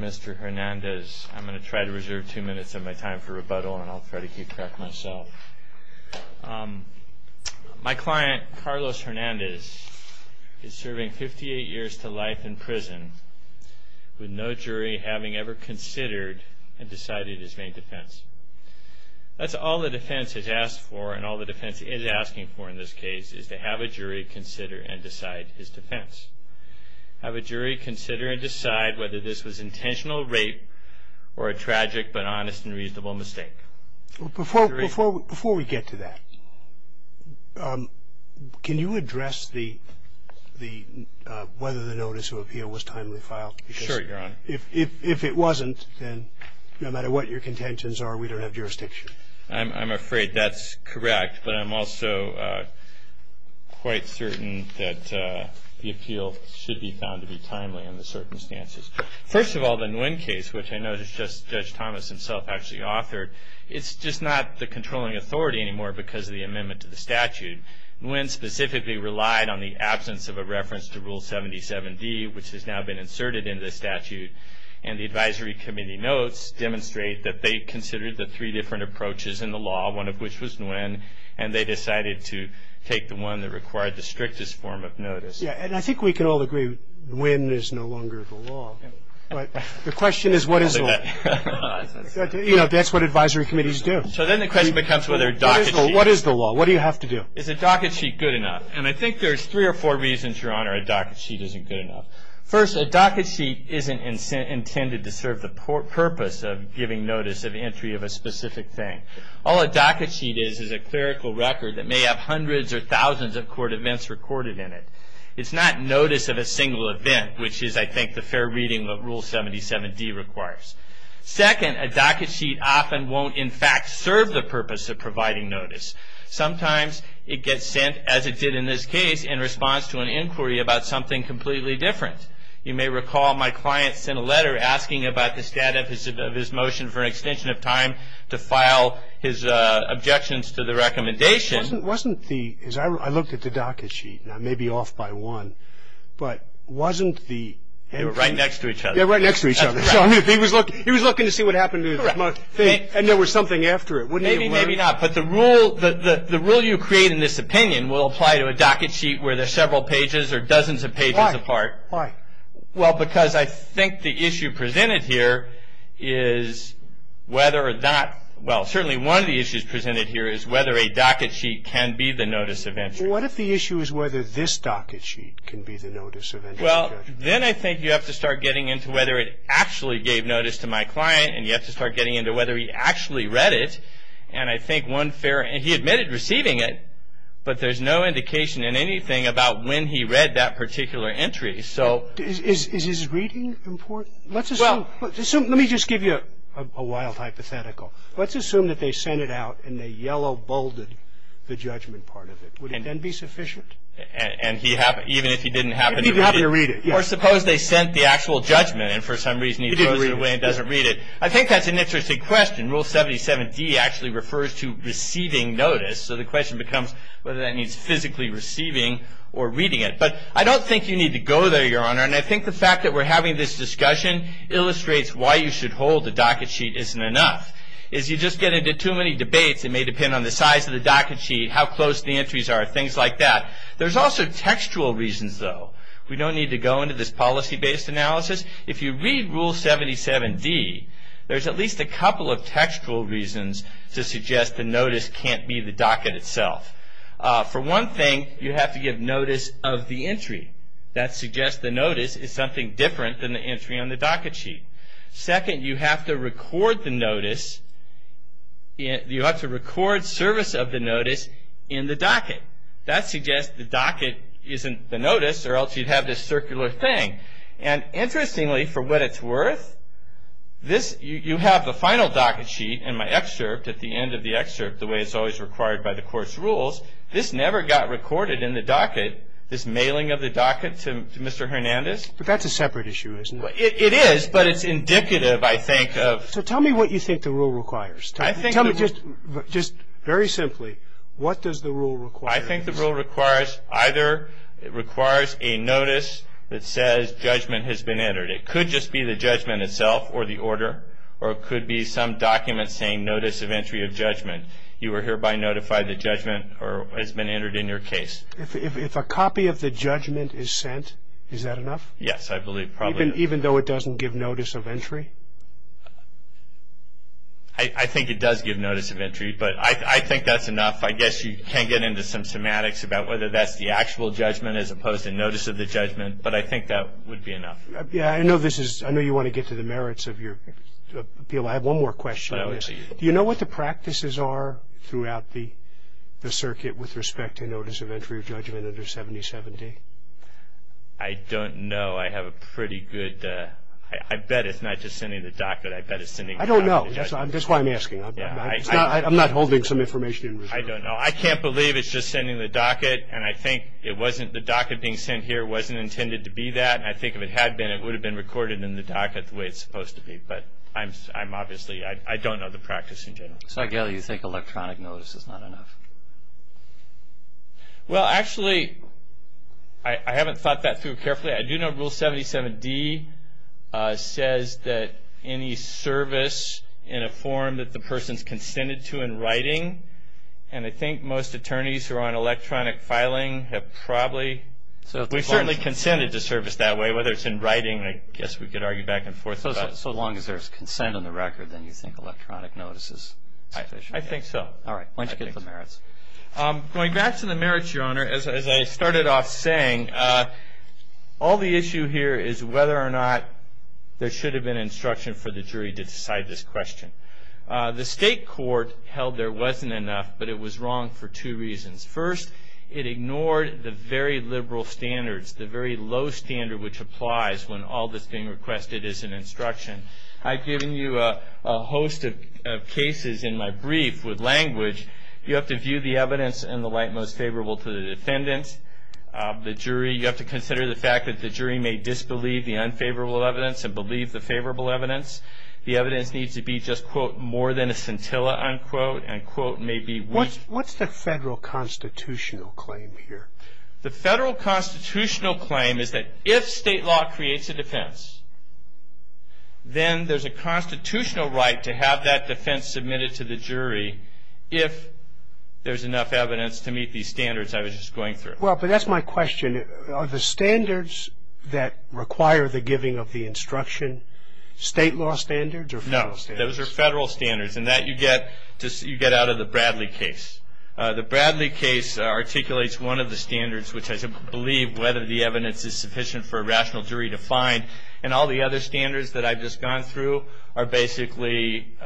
Mr. Hernandez, I'm going to try to reserve two minutes of my time for rebuttal and I'll try to keep track myself. My client, Carlos Hernandez, is serving 58 years to life in prison with no jury having ever considered and decided his main defense. That's all the defense has asked for and all the defense is asking for in this case is to have a jury consider and decide his defense. Have a jury consider and decide whether this was intentional rape or a tragic but honest and reasonable mistake. Before we get to that, can you address whether the notice of appeal was timely filed? Sure, Your Honor. If it wasn't, then no matter what your contentions are, we don't have jurisdiction. I'm afraid that's correct, but I'm also quite certain that the appeal should be found to be timely in the circumstances. First of all, the Nguyen case, which I know is just Judge Thomas himself actually authored, it's just not the controlling authority anymore because of the amendment to the statute. Nguyen specifically relied on the absence of a reference to Rule 77D, which has now been inserted into the statute, and the advisory committee notes demonstrate that they considered the three different approaches in the law, one of which was Nguyen, and they decided to take the one that required the strictest form of notice. Yeah, and I think we can all agree Nguyen is no longer the law, but the question is what is the law? You know, that's what advisory committees do. So then the question becomes whether a docket sheet... What is the law? What do you have to do? Is a docket sheet good enough? And I think there's three or four reasons, Your Honor, a docket sheet isn't good enough. First, a docket sheet isn't intended to serve the purpose of giving notice of entry of a specific thing. All a docket sheet is is a clerical record that may have hundreds or thousands of court events recorded in it. It's not notice of a single event, which is, I think, the fair reading of what Rule 77D requires. Second, a docket sheet often won't, in fact, serve the purpose of providing notice. Sometimes it gets sent, as it did in this case, in response to an inquiry about something completely different. You may recall my client sent a letter asking about the status of his motion for an extension of time to file his objections to the recommendation. It wasn't the... I looked at the docket sheet, and I may be off by one, but wasn't the... They were right next to each other. Yeah, right next to each other. He was looking to see what happened to the thing, and there was something after it. Maybe, maybe not, but the rule you create in this opinion will apply to a docket sheet where there's several pages or dozens of pages apart. Why? Well, because I think the issue presented here is whether or not... Well, certainly one of the issues presented here is whether a docket sheet can be the notice of entry. What if the issue is whether this docket sheet can be the notice of entry? Well, then I think you have to start getting into whether it actually gave notice to my client, and you have to start getting into whether he actually read it, and I think one fair... He admitted receiving it, but there's no indication in anything about when he read that particular entry. So... Is his reading important? Let's assume... Well... Let me just give you a wild hypothetical. Let's assume that they sent it out, and they yellow-bolded the judgment part of it. Would it then be sufficient? And he happened... Even if he didn't happen to read it. He didn't happen to read it. Or suppose they sent the actual judgment, and for some reason he throws it away and doesn't read it. I think that's an interesting question. Rule 77D actually refers to receiving notice. So the question becomes whether that means physically receiving or reading it. But I don't think you need to go there, Your Honor, and I think the fact that we're having this discussion illustrates why you should hold the docket sheet isn't enough. As you just get into too many debates, it may depend on the size of the docket sheet, how close the entries are, things like that. There's also textual reasons, though. We don't need to go into this policy-based analysis. If you read Rule 77D, there's at least a couple of textual reasons to suggest the notice can't be the docket itself. For one thing, you have to give notice of the entry. That suggests the notice is something different than the entry on the docket sheet. Second, you have to record the notice... You have to record service of the notice in the docket. That suggests the docket isn't the notice, or else you'd have this circular thing. And interestingly, for what it's worth, you have the final docket sheet in my excerpt, at the end of the excerpt, the way it's always required by the Court's rules. This never got recorded in the docket, this mailing of the docket to Mr. Hernandez. But that's a separate issue, isn't it? It is, but it's indicative, I think, of... So tell me what you think the rule requires. Just very simply, what does the rule require? I think the rule requires either... It requires a notice that says judgment has been entered. It could just be the judgment itself, or the order, or it could be some document saying notice of entry of judgment. You are hereby notified that judgment has been entered in your case. If a copy of the judgment is sent, is that enough? Yes, I believe, probably. Even though it doesn't give notice of entry? I think it does give notice of entry, but I think that's enough. I guess you can get into some semantics about whether that's the actual judgment as opposed to notice of the judgment, but I think that would be enough. Yes, I know this is... I know you want to get to the merits of your appeal. I have one more question. Do you know what the practices are throughout the circuit with respect to notice of entry of judgment under 7070? I don't know. I have a pretty good... I bet it's not just sending the docket. I bet it's sending... I don't know. That's why I'm asking. I'm not holding some information. I don't know. I can't believe it's just sending the docket, and I think it wasn't... The docket being sent here wasn't intended to be that, and I think if it had been, it would have been recorded in the docket the way it's supposed to be. But I'm obviously... I don't know the practice in general. So, again, you think electronic notice is not enough? Well, actually, I haven't thought that through carefully. I do know Rule 77D says that any service in a form that the person's consented to in writing, and I think most attorneys who are on electronic filing have probably... We've certainly consented to service that way, whether it's in writing. I guess we could argue back and forth about it. So long as there's consent on the record, then you think electronic notice is sufficient? I think so. All right. Why don't you get to the merits? Going back to the merits, Your Honor, as I started off saying, all the issue here is whether or not there should have been instruction for the jury to decide this question. The state court held there wasn't enough, but it was wrong for two reasons. First, it ignored the very liberal standards, the very low standard, which applies when all that's being requested is an instruction. I've given you a host of cases in my brief with language. You have to view the evidence in the light most favorable to the defendant. You have to consider the fact that the jury may disbelieve the unfavorable evidence and believe the favorable evidence. The evidence needs to be just, quote, more than a scintilla, unquote, and, quote, may be weak. What's the federal constitutional claim here? The federal constitutional claim is that if state law creates a defense, then there's a constitutional right to have that defense submitted to the jury if there's enough evidence to meet these standards I was just going through. Well, but that's my question. Are the standards that require the giving of the instruction state law standards or federal standards? No, those are federal standards, and that you get out of the Bradley case. The Bradley case articulates one of the standards, which I believe whether the evidence is sufficient for a rational jury to find, and all the other standards that I've just gone through are basically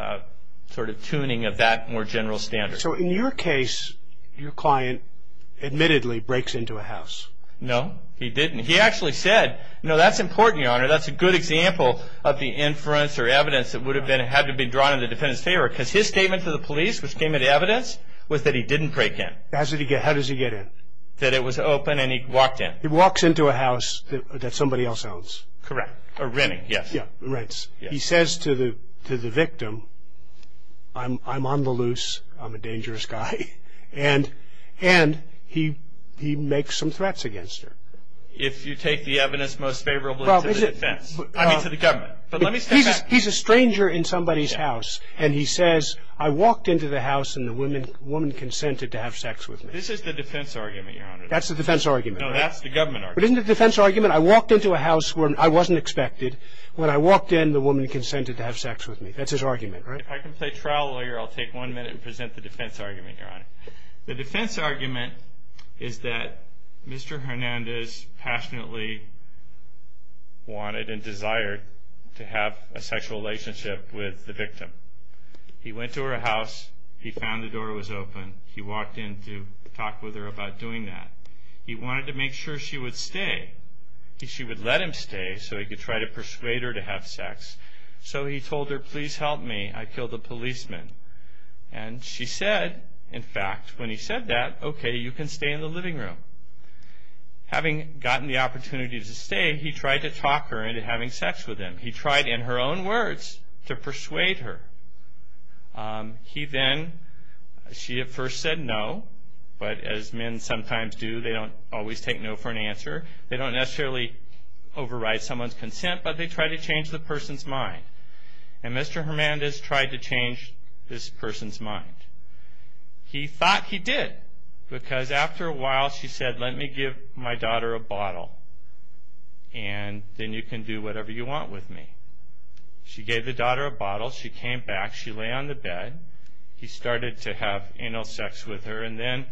sort of tuning of that more general standard. So in your case, your client admittedly breaks into a house. No, he didn't. He actually said, no, that's important, Your Honor. That's a good example of the inference or evidence that would have had to be drawn in the defendant's favor because his statement to the police, which came into evidence, was that he didn't break in. How does he get in? That it was open and he walked in. He walks into a house that somebody else owns. Correct. Or renting, yes. Yeah, rents. He says to the victim, I'm on the loose, I'm a dangerous guy, and he makes some threats against her. If you take the evidence most favorable to the defense, I mean to the government. But let me step back. He's a stranger in somebody's house, and he says, I walked into the house and the woman consented to have sex with me. This is the defense argument, Your Honor. That's the defense argument, right? No, that's the government argument. But isn't the defense argument, I walked into a house where I wasn't expected. When I walked in, the woman consented to have sex with me. That's his argument, right? If I can play trial lawyer, I'll take one minute and present the defense argument, Your Honor. The defense argument is that Mr. Hernandez passionately wanted and desired to have a sexual relationship with the victim. He went to her house. He found the door was open. He walked in to talk with her about doing that. He wanted to make sure she would stay. She would let him stay so he could try to persuade her to have sex. So he told her, please help me. I killed a policeman. And she said, in fact, when he said that, okay, you can stay in the living room. Having gotten the opportunity to stay, he tried to talk her into having sex with him. He tried, in her own words, to persuade her. He then, she at first said no, but as men sometimes do, they don't always take no for an answer. They don't necessarily override someone's consent, but they try to change the person's mind. And Mr. Hernandez tried to change this person's mind. He thought he did, because after a while she said, let me give my daughter a bottle, and then you can do whatever you want with me. She gave the daughter a bottle. She came back. She lay on the bed. He started to have anal sex with her. And then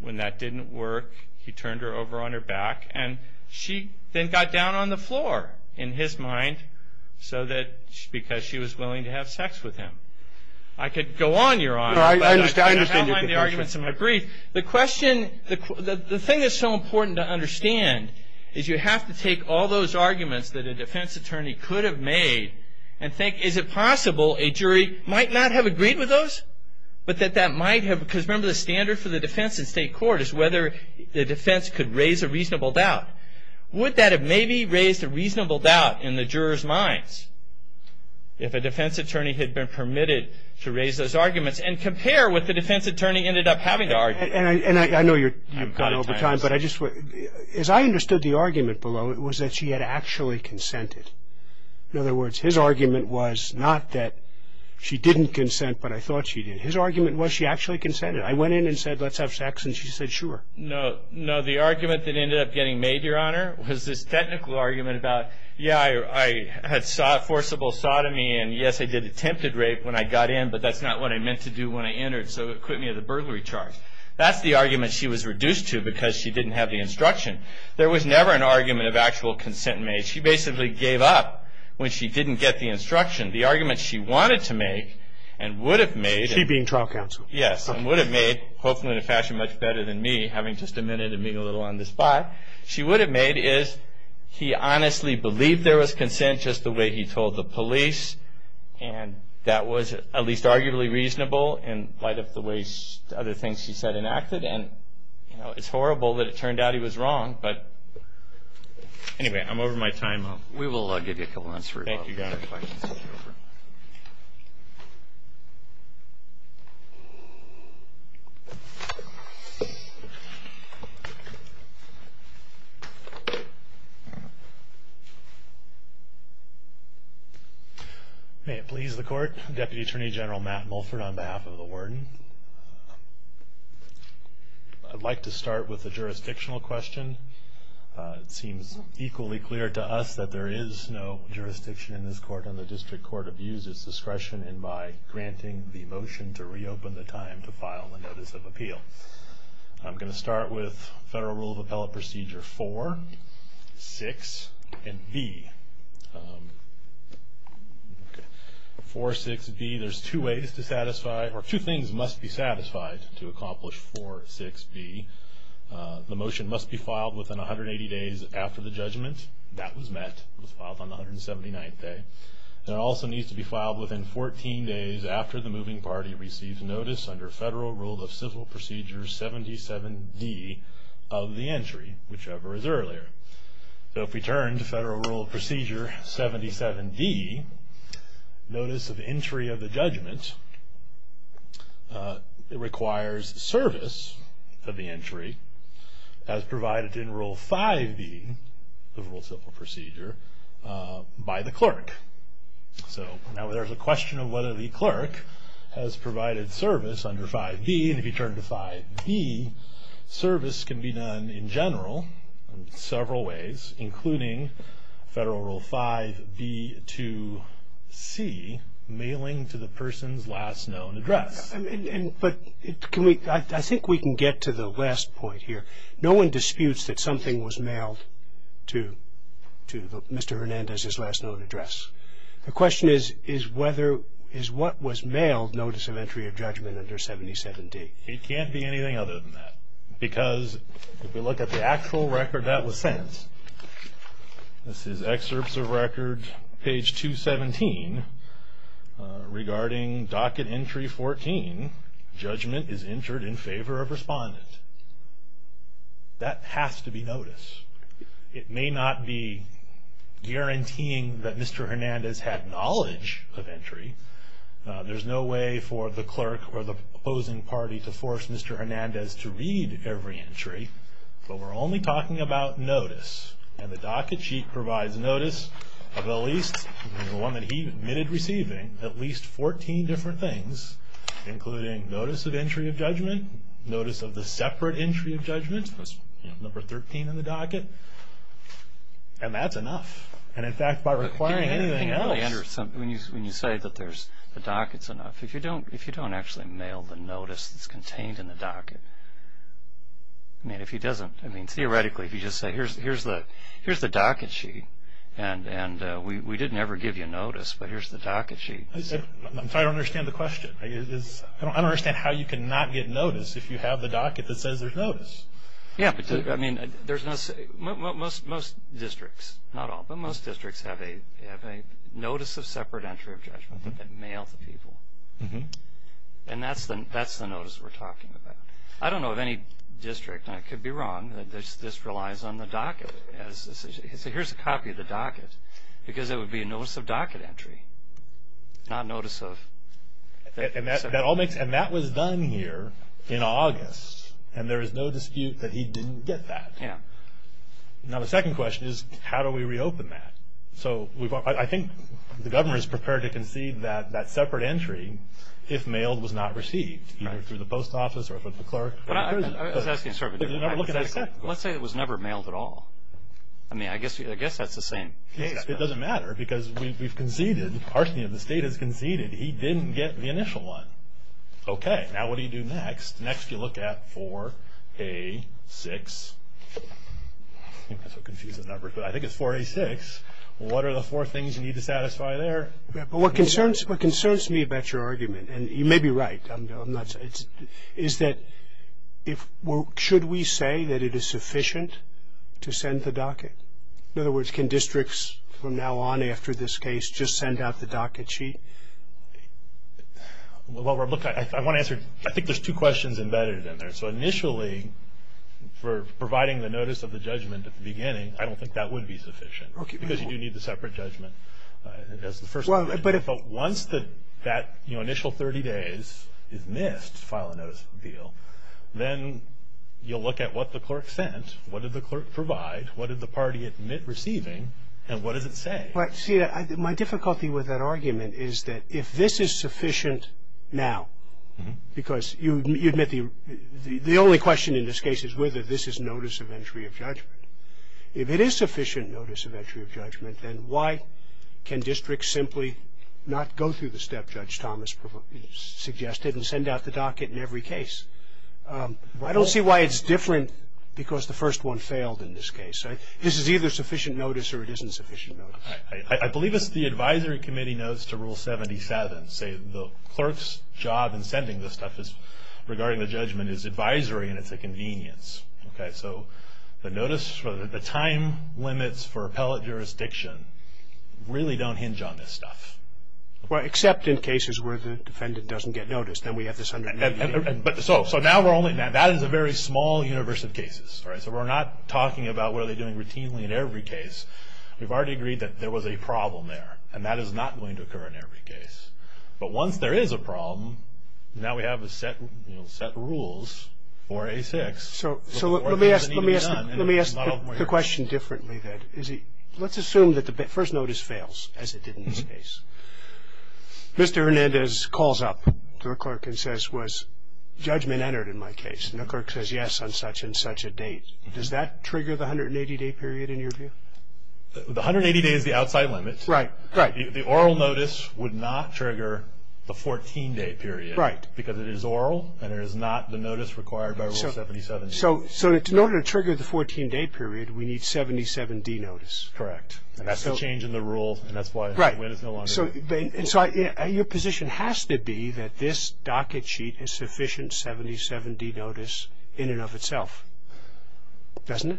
when that didn't work, he turned her over on her back. And she then got down on the floor, in his mind, because she was willing to have sex with him. I could go on, Your Honor. But I'm going to outline the arguments in my brief. The thing that's so important to understand is you have to take all those arguments that a defense attorney could have made and think, is it possible a jury might not have agreed with those, but that that might have, because remember, the standard for the defense in state court is whether the defense could raise a reasonable doubt. Would that have maybe raised a reasonable doubt in the jurors' minds if a defense attorney had been permitted to raise those arguments and compare what the defense attorney ended up having to argue? And I know you've gone over time, but as I understood the argument below, it was that she had actually consented. In other words, his argument was not that she didn't consent, but I thought she did. His argument was she actually consented. I went in and said, let's have sex, and she said, sure. No, the argument that ended up getting made, Your Honor, was this technical argument about, yeah, I had forcible sodomy, and yes, I did attempted rape when I got in, but that's not what I meant to do when I entered, so it put me at the burglary charge. That's the argument she was reduced to because she didn't have the instruction. There was never an argument of actual consent made. She basically gave up when she didn't get the instruction. The argument she wanted to make and would have made... She being trial counsel. Yes, and would have made, hopefully in a fashion much better than me, having just a minute and being a little on the spot, she would have made is he honestly believed there was consent just the way he told the police, and that was at least arguably reasonable in light of the way other things she said and acted, and it's horrible that it turned out he was wrong, but anyway, I'm over my time. We will give you a couple minutes for your questions. May it please the court. Deputy Attorney General Matt Mulford on behalf of the warden. I'd like to start with a jurisdictional question. It seems equally clear to us that there is no jurisdiction in this court, and the district court abuses discretion in my granting the motion to reopen the time to file a notice of appeal. I'm going to start with federal rule of appellate procedure 4, 6, and B. 4, 6, B, there's two ways to satisfy, or two things must be satisfied to accomplish 4, 6, B. The motion must be filed within 180 days after the judgment. That was met. It was filed on the 179th day. And it also needs to be filed within 14 days after the moving party receives notice under federal rule of civil procedure 77D of the entry, whichever is earlier. So if we turn to federal rule of procedure 77D, notice of entry of the judgment, it requires service of the entry as provided in rule 5B of rule of civil procedure by the clerk. So now there's a question of whether the clerk has provided service under 5B, and if you turn to 5B, service can be done in general in several ways, including federal rule 5B to C, mailing to the person's last known address. But I think we can get to the last point here. No one disputes that something was mailed to Mr. Hernandez's last known address. The question is what was mailed, notice of entry of judgment under 77D? It can't be anything other than that. Because if we look at the actual record that was sent, this is excerpts of record, page 217, regarding docket entry 14, judgment is entered in favor of respondent. That has to be noticed. It may not be guaranteeing that Mr. Hernandez had knowledge of entry. There's no way for the clerk or the opposing party to force Mr. Hernandez to read every entry. But we're only talking about notice. And the docket sheet provides notice of at least, the one that he admitted receiving, at least 14 different things, including notice of entry of judgment, notice of the separate entry of judgment, number 13 in the docket. And that's enough. And, in fact, by requiring anything else. When you say that the docket's enough, if you don't actually mail the notice that's contained in the docket, I mean, theoretically, if you just say, here's the docket sheet, and we didn't ever give you notice, but here's the docket sheet. I don't understand the question. I don't understand how you can not get notice if you have the docket that says there's notice. Yeah. I mean, most districts, not all, but most districts have a notice of separate entry of judgment that they mail to people. And that's the notice we're talking about. I don't know of any district, and I could be wrong, that this relies on the docket. Here's a copy of the docket, because it would be a notice of docket entry, not notice of separate entry. And that was done here in August, and there is no dispute that he didn't get that. Yeah. Now, the second question is, how do we reopen that? So I think the governor is prepared to concede that that separate entry, if mailed, was not received, either through the post office or through the clerk. I was asking sort of a different question. Let's say it was never mailed at all. I mean, I guess that's the same case. It doesn't matter, because we've conceded, Parson of the State has conceded he didn't get the initial one. Okay. Now, what do you do next? Next, you look at 4A6. I think that's a confusing number, but I think it's 4A6. What are the four things you need to satisfy there? Yeah, but what concerns me about your argument, and you may be right, is that should we say that it is sufficient to send the docket? In other words, can districts from now on after this case just send out the docket sheet? Well, Rob, look, I want to answer. I think there's two questions embedded in there. So initially, for providing the notice of the judgment at the beginning, I don't think that would be sufficient. Okay. Because you do need the separate judgment. But once that initial 30 days is missed to file a notice of appeal, then you'll look at what the clerk sent, what did the clerk provide, what did the party admit receiving, and what does it say? Well, see, my difficulty with that argument is that if this is sufficient now, because you admit the only question in this case is whether this is notice of entry of judgment. If it is sufficient notice of entry of judgment, then why can districts simply not go through the step Judge Thomas suggested and send out the docket in every case? I don't see why it's different because the first one failed in this case. This is either sufficient notice or it isn't sufficient notice. I believe it's the advisory committee knows to rule 77, say the clerk's job in sending this stuff regarding the judgment is advisory and it's a convenience. So the notice for the time limits for appellate jurisdiction really don't hinge on this stuff. Well, except in cases where the defendant doesn't get notice. So now that is a very small universe of cases. So we're not talking about what are they doing routinely in every case. We've already agreed that there was a problem there, and that is not going to occur in every case. But once there is a problem, now we have set rules for A6. So let me ask the question differently then. Let's assume that the first notice fails, as it did in this case. Mr. Hernandez calls up to a clerk and says, was judgment entered in my case? And the clerk says, yes, on such and such a date. Does that trigger the 180-day period in your view? The 180 days is the outside limit. Right, right. The oral notice would not trigger the 14-day period. Right. Because it is oral and there is not the notice required by Rule 77. So in order to trigger the 14-day period, we need 77-D notice. Correct. That's a change in the rule, and that's why it is no longer there. Right. So your position has to be that this docket sheet is sufficient 77-D notice in and of itself. Doesn't it?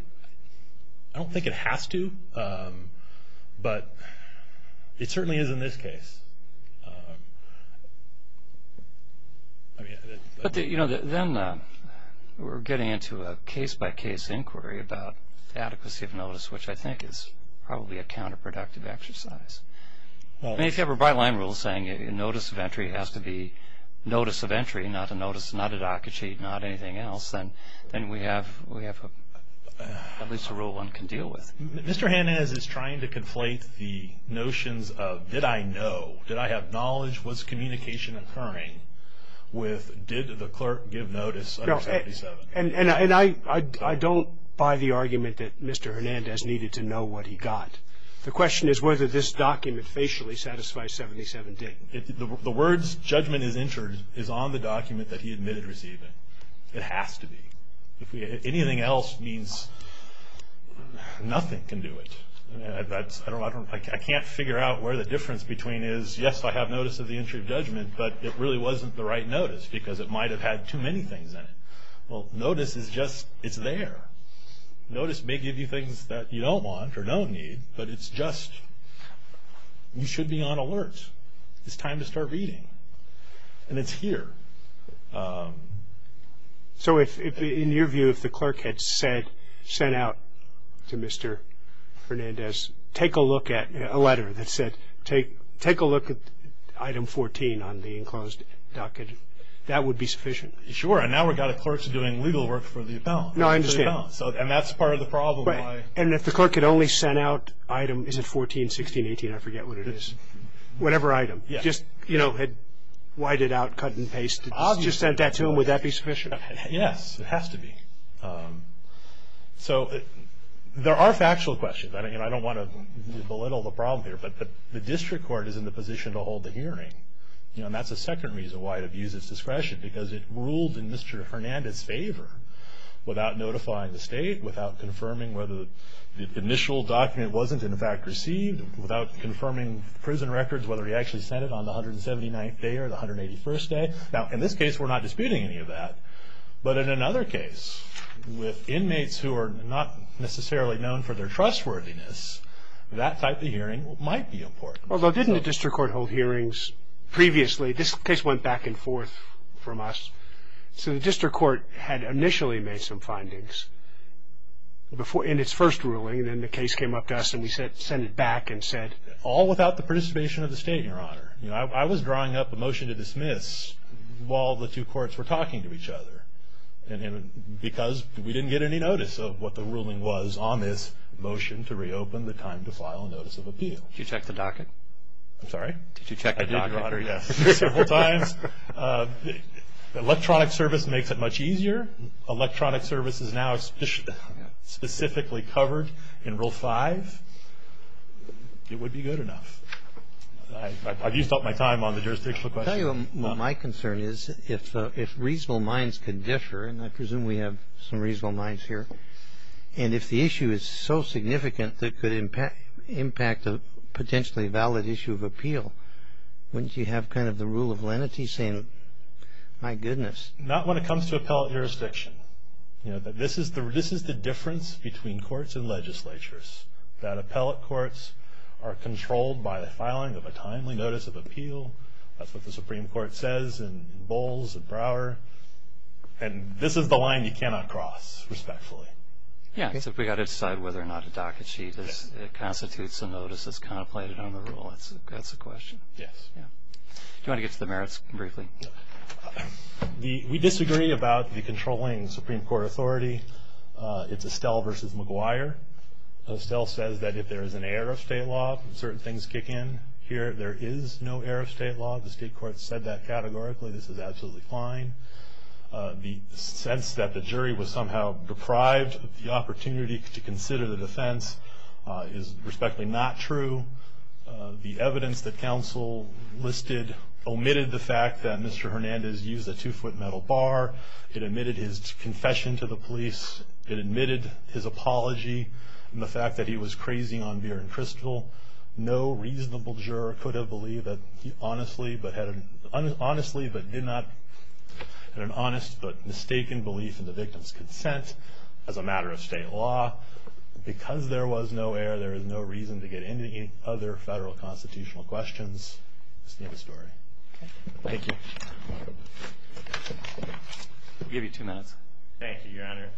I don't think it has to, but it certainly is in this case. But then we're getting into a case-by-case inquiry about the adequacy of notice, which I think is probably a counterproductive exercise. If you have a byline rule saying notice of entry has to be notice of entry, not a notice, not a docket sheet, not anything else, then we have at least a rule one can deal with. Mr. Hernandez is trying to conflate the notions of did I know, did I have knowledge, was communication occurring with did the clerk give notice under 77? I don't buy the argument that Mr. Hernandez needed to know what he got. The question is whether this document facially satisfies 77-D. The words judgment is entered is on the document that he admitted receiving. It has to be. Anything else means nothing can do it. I can't figure out where the difference between is, yes, I have notice of the entry of judgment, but it really wasn't the right notice because it might have had too many things in it. Well, notice is just it's there. Notice may give you things that you don't want or don't need, but it's just you should be on alert. It's time to start reading. And it's here. So in your view, if the clerk had said, sent out to Mr. Hernandez, take a look at a letter that said take a look at item 14 on the enclosed docket, that would be sufficient? Sure. And now we've got a clerk doing legal work for the appellant. No, I understand. And that's part of the problem. And if the clerk had only sent out item, is it 14, 16, 18, I forget what it is, whatever item, just, you know, had whited out, cut and pasted, just sent that to him, would that be sufficient? Yes, it has to be. So there are factual questions. I don't want to belittle the problem here, but the district court is in the position to hold the hearing. And that's the second reason why it abuses discretion, because it ruled in Mr. Hernandez's favor without notifying the state, without confirming whether the initial document wasn't in fact received, without confirming prison records, whether he actually sent it on the 179th day or the 181st day. Now, in this case, we're not disputing any of that. But in another case, with inmates who are not necessarily known for their trustworthiness, that type of hearing might be important. Although didn't the district court hold hearings previously? This case went back and forth from us. So the district court had initially made some findings in its first ruling, and then the case came up to us and we sent it back and said. All without the participation of the state, Your Honor. I was drawing up a motion to dismiss while the two courts were talking to each other. Because we didn't get any notice of what the ruling was on this motion to reopen the time to file a notice of appeal. Did you check the docket? I'm sorry? Did you check the docket? I did, Your Honor, yes. Several times. Electronic service makes it much easier. Electronic service is now specifically covered in Rule 5. It would be good enough. I've used up my time on the jurisdictional question. I'll tell you what my concern is. If reasonable minds could differ, and I presume we have some reasonable minds here, and if the issue is so significant that it could impact a potentially valid issue of appeal, wouldn't you have kind of the rule of lenity saying, my goodness. Not when it comes to appellate jurisdiction. This is the difference between courts and legislatures. That appellate courts are controlled by the filing of a timely notice of appeal. That's what the Supreme Court says in Bowles and Brower. And this is the line you cannot cross respectfully. Yeah, it's if we've got to decide whether or not a docket sheet constitutes a notice that's contemplated on the rule. That's a question. Yes. Do you want to get to the merits briefly? We disagree about the controlling Supreme Court authority. It's Estelle versus McGuire. Estelle says that if there is an error of state law, certain things kick in. Here there is no error of state law. The state courts said that categorically. This is absolutely fine. The sense that the jury was somehow deprived of the opportunity to consider the defense is respectfully not true. The evidence that counsel listed omitted the fact that Mr. Hernandez used a two-foot metal bar. It omitted his confession to the police. It omitted his apology and the fact that he was crazing on beer and crystal. No reasonable juror could have believed that he honestly but did not, had an honest but mistaken belief in the victim's consent as a matter of state law. Because there was no error, there is no reason to get into any other federal constitutional questions. That's the end of the story. Thank you. I'll give you two minutes. Thank you, Your Honor.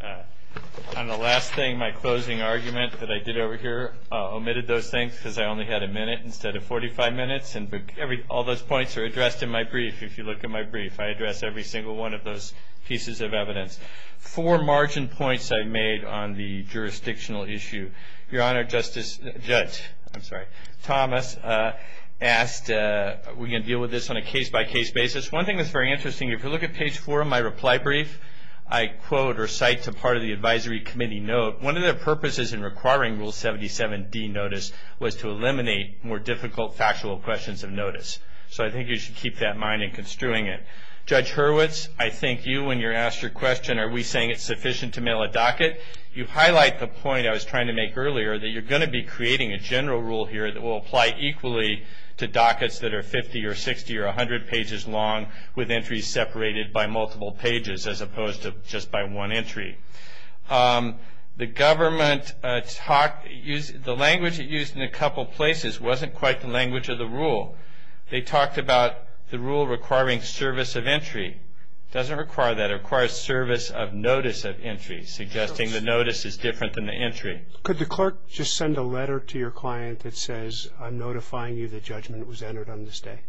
On the last thing, my closing argument that I did over here omitted those things because I only had a minute instead of 45 minutes. All those points are addressed in my brief. If you look at my brief, I address every single one of those pieces of evidence. Four margin points I made on the jurisdictional issue. Your Honor, Justice Thomas asked, we're going to deal with this on a case-by-case basis. One thing that's very interesting, if you look at page four of my reply brief, I quote or cite to part of the advisory committee note, one of the purposes in requiring Rule 77D notice was to eliminate more difficult factual questions of notice. So I think you should keep that in mind in construing it. Judge Hurwitz, I thank you. When you're asked your question, are we saying it's sufficient to mail a docket, you highlight the point I was trying to make earlier that you're going to be creating a general rule here that will apply equally to dockets that are 50 or 60 or 100 pages long with entries separated by multiple pages as opposed to just by one entry. The language used in a couple places wasn't quite the language of the rule. They talked about the rule requiring service of entry. It doesn't require that. It requires service of notice of entry, suggesting the notice is different than the entry. Could the clerk just send a letter to your client that says, I'm notifying you the judgment was entered on this day?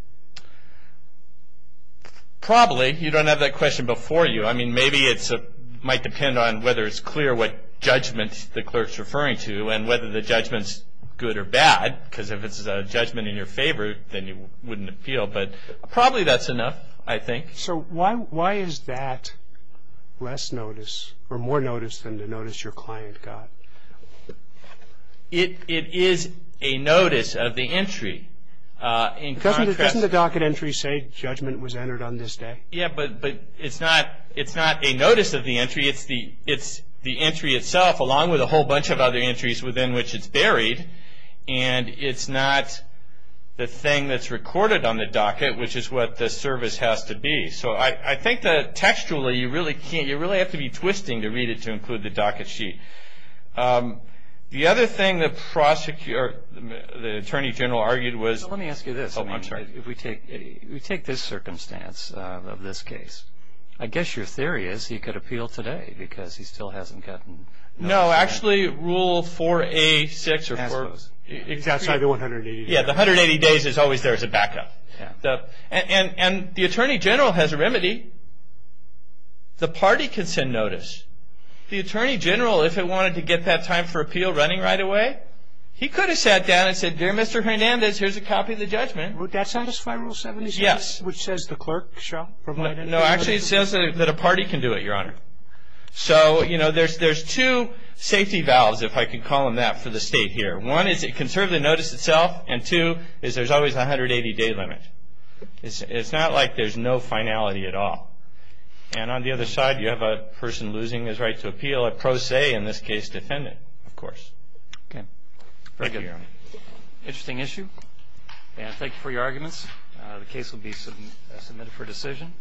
Probably. You don't have that question before you. I mean, maybe it might depend on whether it's clear what judgment the clerk's referring to and whether the judgment's good or bad, because if it's a judgment in your favor, then you wouldn't appeal. But probably that's enough, I think. So why is that less notice or more notice than the notice your client got? It is a notice of the entry. Doesn't the docket entry say judgment was entered on this day? Yeah, but it's not a notice of the entry. It's the entry itself along with a whole bunch of other entries within which it's buried, and it's not the thing that's recorded on the docket, which is what the service has to be. So I think that textually, you really have to be twisting to read it to include the docket sheet. The other thing the attorney general argued was – Let me ask you this. Oh, I'm sorry. If we take this circumstance of this case, I guess your theory is he could appeal today, because he still hasn't gotten – No, actually Rule 4A-6 or 4 – It's outside the 180 days. Yeah, the 180 days is always there as a backup. And the attorney general has a remedy. The party can send notice. The attorney general, if it wanted to get that time for appeal running right away, he could have sat down and said, Dear Mr. Hernandez, here's a copy of the judgment. Would that satisfy Rule 76? Yes. Which says the clerk shall provide – No, actually it says that a party can do it, Your Honor. So, you know, there's two safety valves, if I can call them that, for the state here. One is it can serve the notice itself, and two is there's always a 180-day limit. It's not like there's no finality at all. And on the other side, you have a person losing his right to appeal, a pro se, in this case, defendant, of course. Okay. Thank you, Your Honor. Very good. Interesting issue. And thank you for your arguments. The case will be submitted for decision.